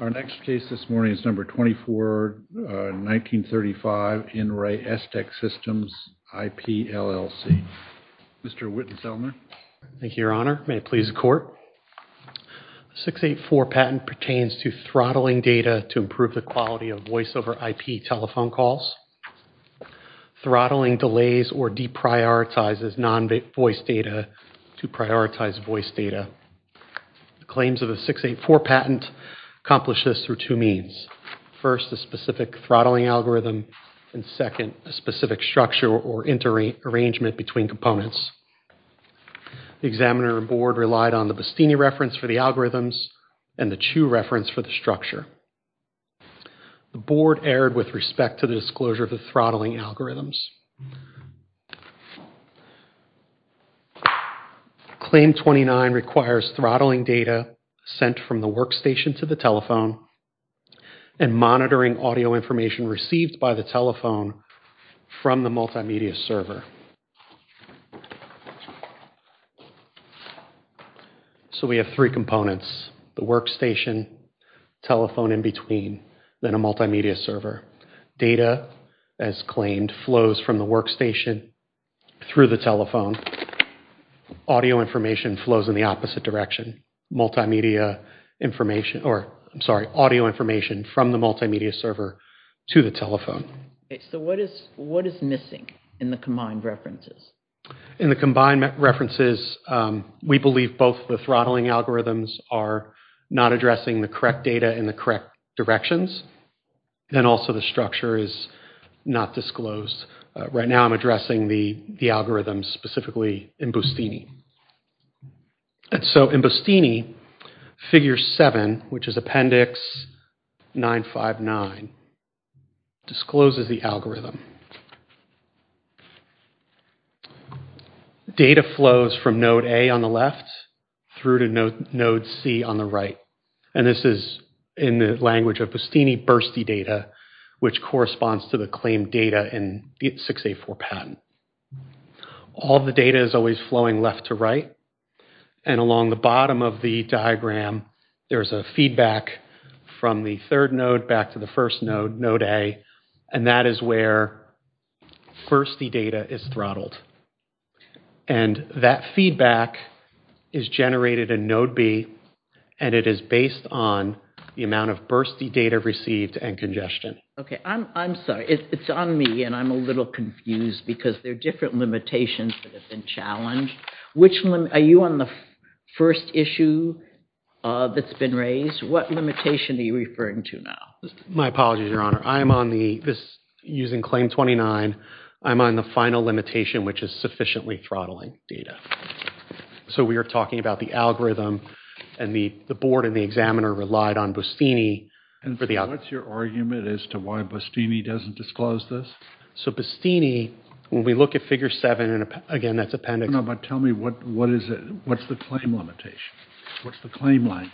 Our next case this morning is number 24, 1935, In Re, Estech Systems IP, LLC. Mr. Wittenselmer. Thank you, Your Honor. May it please the Court? 684 patent pertains to throttling data to improve the quality of voice over IP telephone calls. Throttling delays or deprioritizes non-voice data to prioritize voice data. The claims of the 684 patent accomplish this through two means. First, a specific throttling algorithm, and second, a specific structure or inter-arrangement between components. The examiner and board relied on the Bastini reference for the algorithms and the Chu reference for the structure. The board erred with respect to the disclosure of the throttling algorithms. Claim 29 requires throttling data sent from the workstation to the telephone and monitoring audio information received by the telephone from the multimedia server. So we have three components, the workstation, telephone in between, then a multimedia server. Data, as claimed, flows from the workstation through the telephone. Audio information flows in the opposite direction, multimedia information, or I'm sorry, audio information from the multimedia server to the telephone. So what is missing in the combined references? In the combined references, we believe both the throttling algorithms are not addressing the correct data in the correct directions, and also the structure is not disclosed. Right now I'm addressing the algorithms, specifically in Bastini. So in Bastini, figure 7, which is appendix 959, discloses the algorithm. Data flows from node A on the left through to node C on the right. And this is in the language of Bastini bursty data, which corresponds to the claimed data in 684 patent. All the data is always flowing left to right. And along the bottom of the diagram, there is a feedback from the third node back to the first node, node A, and that is where bursty data is throttled. And that feedback is generated in node B, and it is based on the amount of bursty data received and congestion. Okay, I'm sorry, it's on me, and I'm a little confused because there are different limitations that have been challenged. Are you on the first issue that's been raised? What limitation are you referring to now? My apologies, Your Honor. I'm on the, using claim 29, I'm on the final limitation, which is sufficiently throttling data. So we are talking about the algorithm, and the board and the examiner relied on Bastini. And what's your argument as to why Bastini doesn't disclose this? So Bastini, when we look at figure 7, and again, that's appendix No, but tell me, what is it, what's the claim limitation, what's the claim line?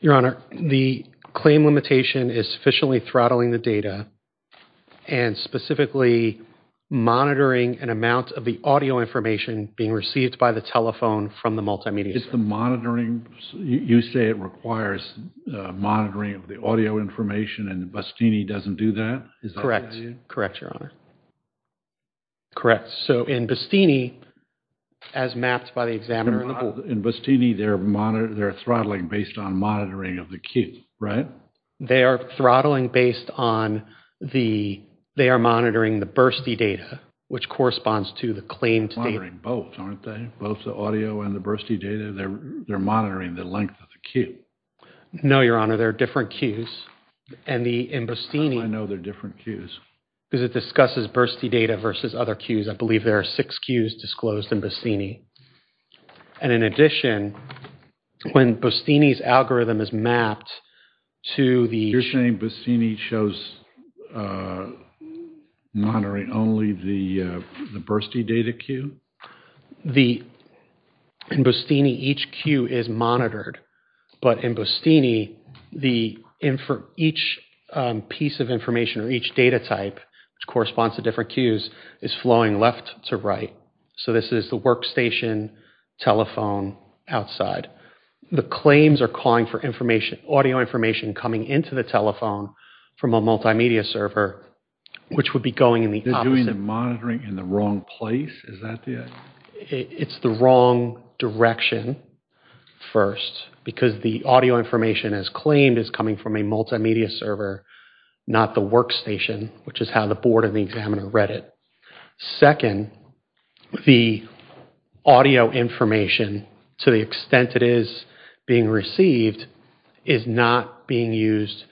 Your Honor, the claim limitation is sufficiently throttling the data, and specifically monitoring an amount of the audio information being received by the telephone from the multimedia. Is the monitoring, you say it requires monitoring of the audio information, and Bastini doesn't do that? Correct, correct, Your Honor, correct. So in Bastini, as mapped by the examiner. In Bastini, they're monitoring, they're throttling based on monitoring of the queue, right? They are throttling based on the, they are monitoring the bursty data, which corresponds to the claimed data. They're monitoring both, aren't they? Both the audio and the bursty data, they're monitoring the length of the queue. No, Your Honor, they're different queues. And the, in Bastini. How do I know they're different queues? Because it discusses bursty data versus other queues, I believe there are six queues disclosed in Bastini. And in addition, when Bastini's algorithm is mapped to the. You're saying Bastini shows monitoring only the bursty data queue? The, in Bastini, each queue is monitored. But in Bastini, the, each piece of information, or each data type, which corresponds to different queues is flowing left to right. So this is the workstation, telephone, outside. The claims are calling for information, audio information coming into the telephone from a multimedia server, which would be going in the opposite. They're doing the monitoring in the wrong place? Is that the. It's the wrong direction, first, because the audio information is claimed as coming from a multimedia server, not the workstation, which is how the board and the examiner read it. Second, the audio information, to the extent it is being received, is not being used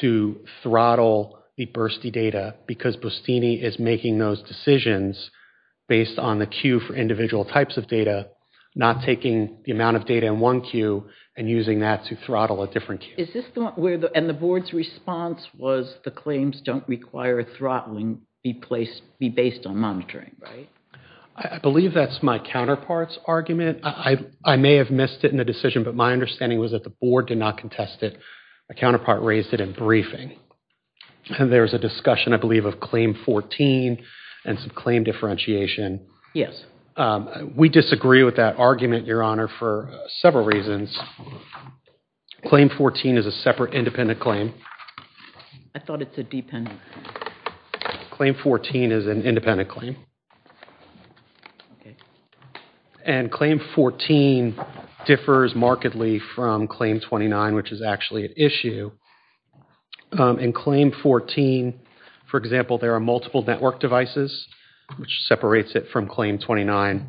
to throttle the bursty data, because Bastini is making those decisions based on the queue for individual types of data, not taking the amount of data in one queue and using that to throttle a different queue. Is this the one where the, and the board's response was the claims don't require throttling be placed, be based on monitoring, right? I believe that's my counterpart's argument. I may have missed it in the decision, but my understanding was that the board did not contest it. My counterpart raised it in briefing. There was a discussion, I believe, of claim 14 and some claim differentiation. Yes. We disagree with that argument, Your Honor, for several reasons. Claim 14 is a separate independent claim. I thought it's a dependent claim. Claim 14 is an independent claim. And claim 14 differs markedly from claim 29, which is actually an issue. In claim 14, for example, there are multiple network devices, which separates it from claim 29.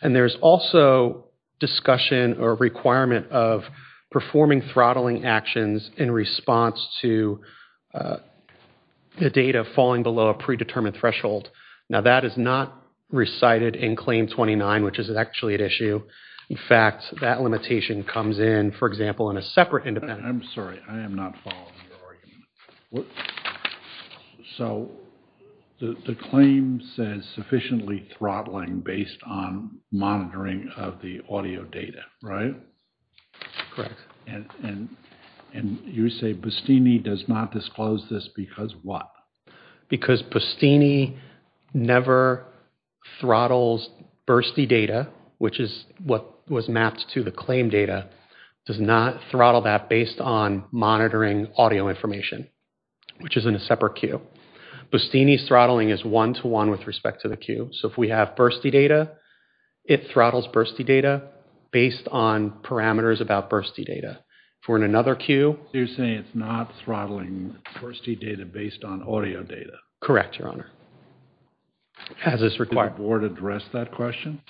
And there's also discussion or requirement of performing throttling actions in response to the data falling below a predetermined threshold. Now that is not recited in claim 29, which is actually an issue. In fact, that limitation comes in, for example, in a separate independent. I'm sorry. I am not following your argument. So the claim says sufficiently throttling based on monitoring of the audio data, right? Correct. And you say Bustini does not disclose this because what? Because Bustini never throttles bursty data, which is what was mapped to the claim data, does not throttle that based on monitoring audio information, which is in a separate queue. Bustini's throttling is one-to-one with respect to the queue. So if we have bursty data, it throttles bursty data based on parameters about bursty data. If we're in another queue... So you're saying it's not throttling bursty data based on audio data? Correct, Your Honor. Has this required... Did the board address that question?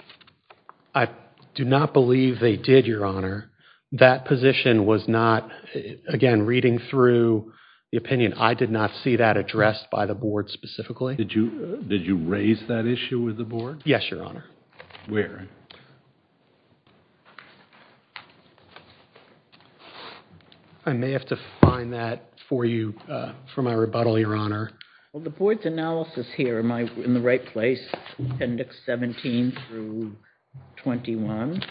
I do not believe they did, Your Honor. That position was not, again, reading through the opinion, I did not see that addressed by the board specifically. Did you raise that issue with the board? Yes, Your Honor. Where? I may have to find that for you for my rebuttal, Your Honor. Well, the board's analysis here, am I in the right place? Appendix 17 through 21.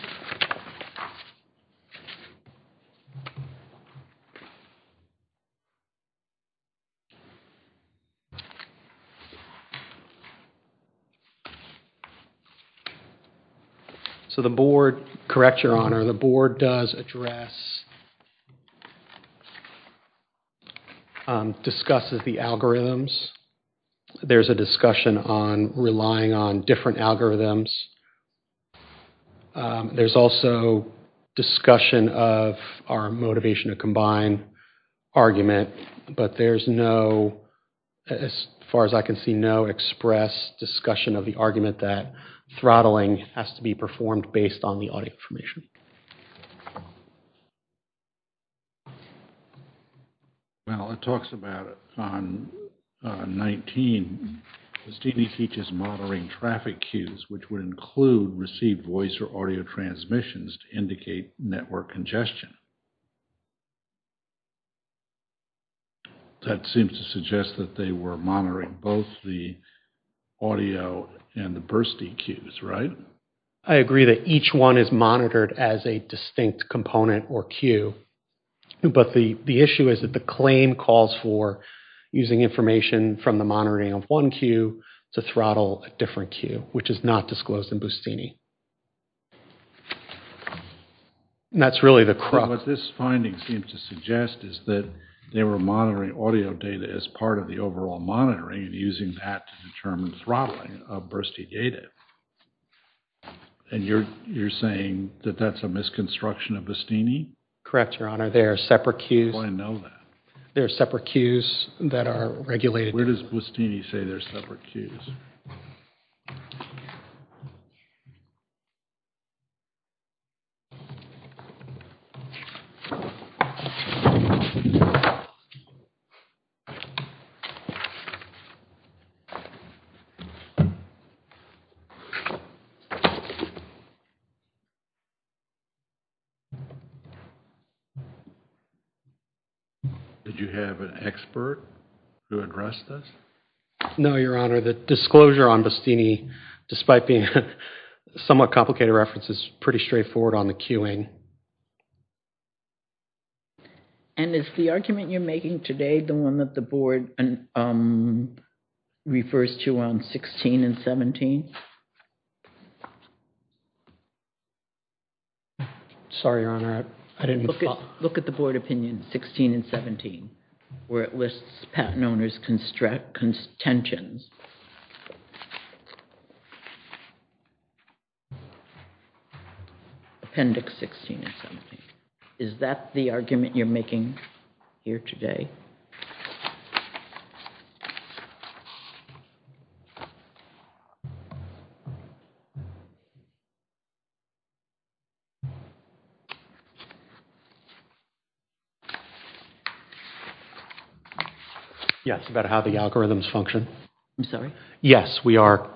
So the board... Correct, Your Honor. The board does address, discusses the algorithms. There's a discussion on relying on different algorithms. There's also discussion of our motivation to combine argument, but there's no, as far as I can see, no express discussion of the argument that throttling has to be performed based on the audio information. Well, it talks about it on 19. Stevie teaches monitoring traffic cues, which would include received voice or audio transmissions to indicate network congestion. That seems to suggest that they were monitoring both the audio and the bursty cues, right? I agree that each one is monitored as a distinct component or cue, but the issue is that the claim calls for using information from the monitoring of one cue to throttle a different cue, which is not disclosed in Bustini. That's really the crux. What this finding seems to suggest is that they were monitoring audio data as part of the overall monitoring and using that to determine throttling of bursty data. And you're saying that that's a misconstruction of Bustini? Correct, Your Honor. They are separate cues. I know that. They are separate cues that are regulated. Where does Bustini say they're separate cues? Did you have an expert to address this? No, Your Honor. The disclosure on Bustini, despite being somewhat complicated reference, is pretty straightforward on the cueing. And is the argument you're making today the one that the board refers to on 16 and 17? Sorry, Your Honor. Look at the board opinion 16 and 17, where it lists patent owners' contentions. Appendix 16 and 17. Is that the argument you're making here today? Yes, about how the algorithms function. I'm sorry? Yes, we are.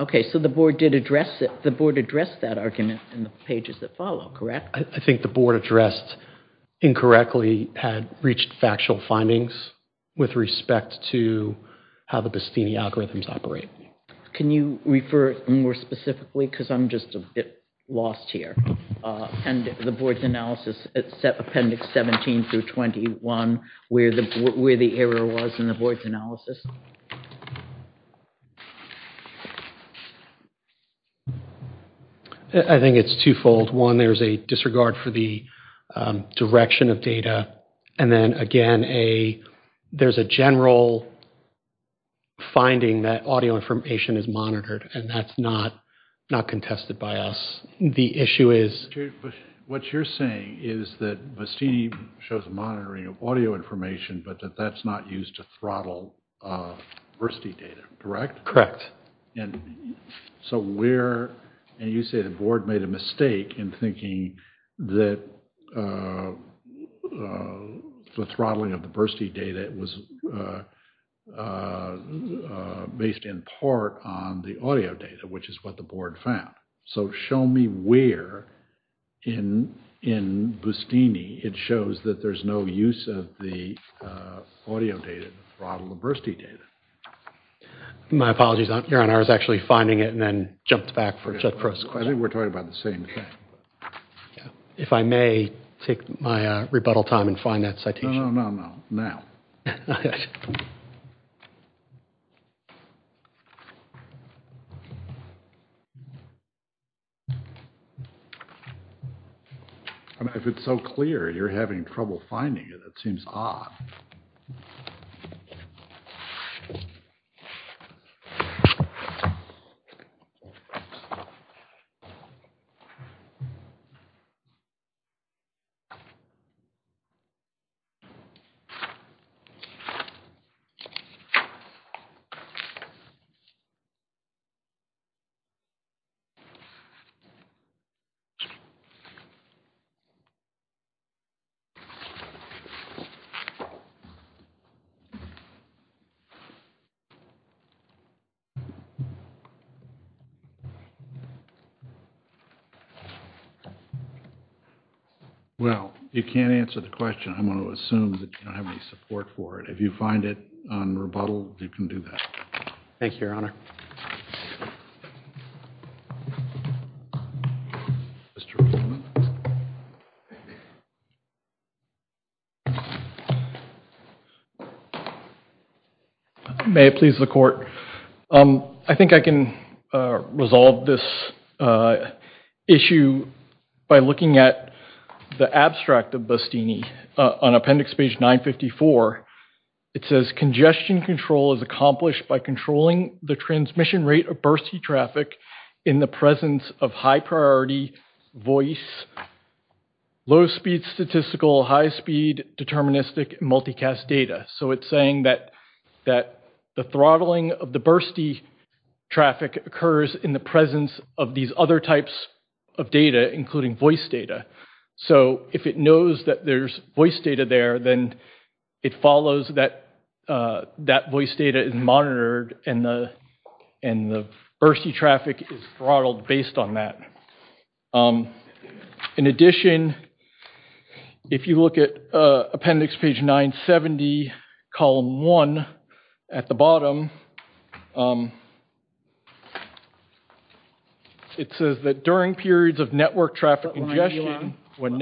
Okay, so the board addressed that argument in the pages that follow, correct? I think the board addressed incorrectly had reached factual findings with respect to how the Bustini algorithms operate. Can you refer more specifically to the Bustini algorithm? Because I'm just a bit lost here. And the board's analysis, appendix 17 through 21, where the error was in the board's analysis. I think it's twofold. One, there's a disregard for the direction of data. And then, again, there's a general finding that audio information is monitored, and that's not contested by us. The issue is... But what you're saying is that Bustini shows monitoring of audio information, but that that's not used to throttle BERSTI data, correct? And so where, and you say the board made a mistake in thinking that the throttling of BERSTI data was based in part on the audio data, which is what the board found. So show me where in Bustini it shows that there's no use of the audio data to throttle the BERSTI data. My apologies, Your Honor. I was actually finding it and then jumped back for Judge Prost's question. I think we're talking about the same thing. If I may take my rebuttal time and find that citation. No, no, no, no. Now. If it's so clear, you're having trouble finding it. It seems odd. Well, you can't answer the question. I'm going to assume that you don't have any support for it. If you find it on rebuttal, you can do that. Thank you, Your Honor. May it please the court. I think I can resolve this issue by looking at the abstract of Bustini. On appendix page 954, it says congestion control is accomplished by controlling the transmission rate of BERSTI traffic in the presence of high-priority voice, low-speed statistical, high-speed deterministic multicast data. So it's saying that the throttling of the BERSTI traffic occurs in the presence of these other types of data, including voice data. So if it knows that there's voice data there, then it follows that that voice data is monitored and the BERSTI traffic is throttled based on that. In addition, if you look at appendix page 970, column 1, at the bottom, it says that during periods of network traffic congestion... Sorry, what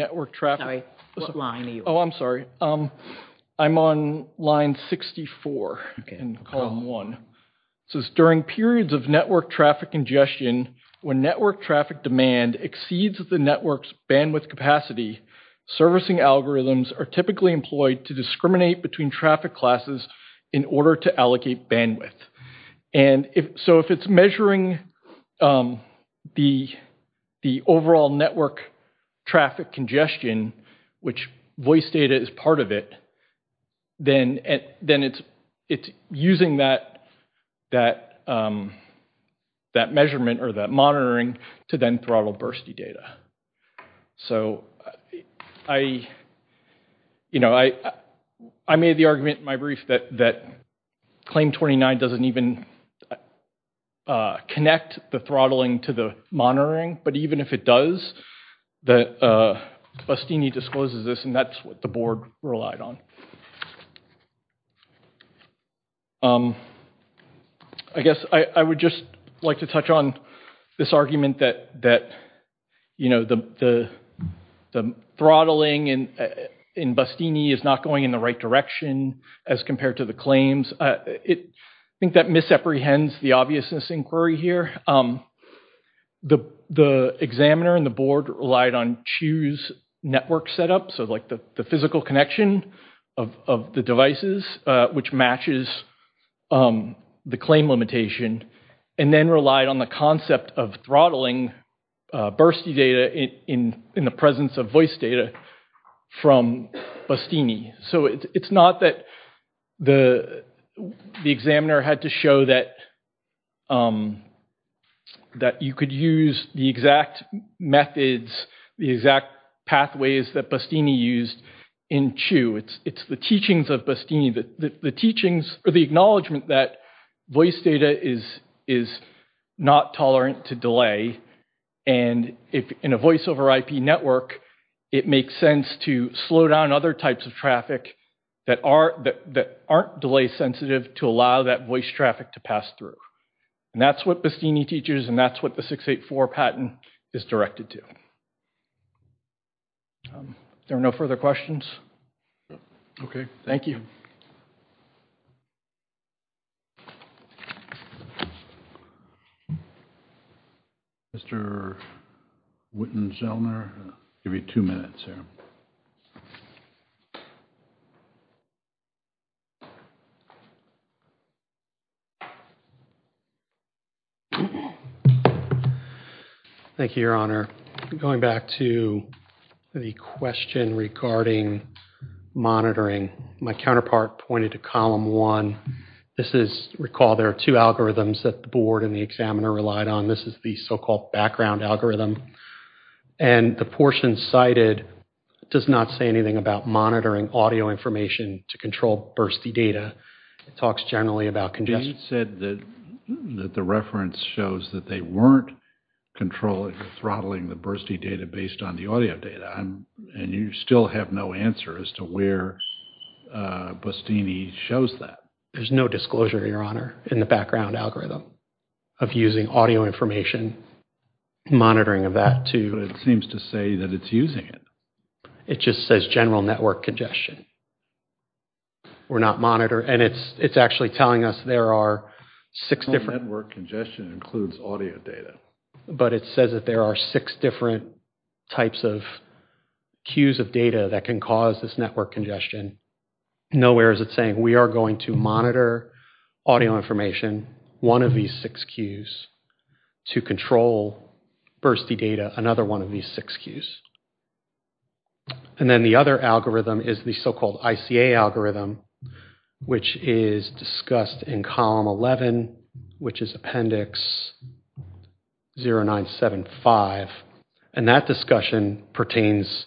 line are you on? Oh, I'm sorry. I'm on line 64 in column 1. It says during periods of network traffic congestion, when network traffic demand exceeds the network's bandwidth capacity, servicing algorithms are typically employed to discriminate between traffic classes in order to allocate bandwidth. And so if it's measuring the overall network traffic congestion, which voice data is part of it, then it's using that measurement or that monitoring to then throttle BERSTI data. I made the argument in my brief that claim 29 doesn't even connect the throttling to the monitoring, but even if it does, BASTINI discloses this and that's what the board relied on. I guess I would just like to touch on this argument that the throttling in BASTINI is not going in the right direction as compared to the claims. I think that misapprehends the obviousness inquiry here. The examiner and the board relied on choose network setup, so like the physical connection of the devices, which matches the claim limitation, and then relied on the concept of throttling BERSTI data in the presence of voice data from BASTINI. It's not that the examiner had to show that you could use the exact methods, the exact pathways that BASTINI used in CHOO. It's the teachings of BASTINI, the teachings or the acknowledgement that voice data is not tolerant to delay, and in a voice over IP network, it makes sense to slow down other types of traffic that aren't delay sensitive to allow that voice traffic to pass through. And that's what BASTINI teaches and that's what the 684 patent is directed to. Are there no further questions? Okay, thank you. Mr. Whitten-Zellner, I'll give you two minutes here. Thank you. Thank you, Your Honor. Going back to the question regarding monitoring, my counterpart pointed to column one. This is, recall there are two algorithms that the board and the examiner relied on. This is the so-called background algorithm, and the portion cited does not say anything about monitoring audio information to control bursty data. It talks generally about congestion. You said that the reference shows that they weren't controlling, throttling the bursty data based on the audio data, and you still have no answer as to where BASTINI shows that. There's no disclosure, Your Honor, in the background algorithm of using audio information, monitoring of that to... But it seems to say that it's using it. It just says general network congestion. We're not monitoring, and it's actually telling us there are six different... General network congestion includes audio data. But it says that there are six different types of cues of data that can cause this network congestion. Nowhere is it saying we are going to monitor audio information, one of these six cues, to control bursty data, another one of these six cues. And then the other algorithm is the so-called ICA algorithm, which is discussed in column 11, which is appendix 0975, and that discussion pertains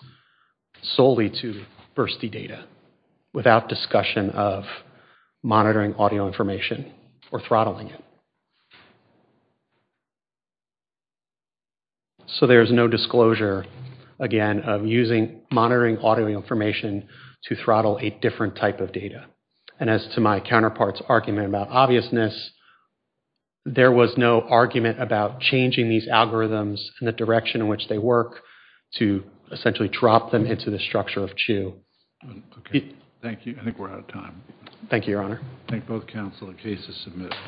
solely to bursty data, without discussion of monitoring audio information or throttling it. So there's no disclosure, again, of using monitoring audio information to throttle a different type of data. And as to my counterpart's argument about obviousness, there was no argument about changing these algorithms and the direction in which they work to essentially drop them into the structure of CHU. Okay. Thank you. I think we're out of time. Thank you, Your Honor. I think both counsel and cases submitted.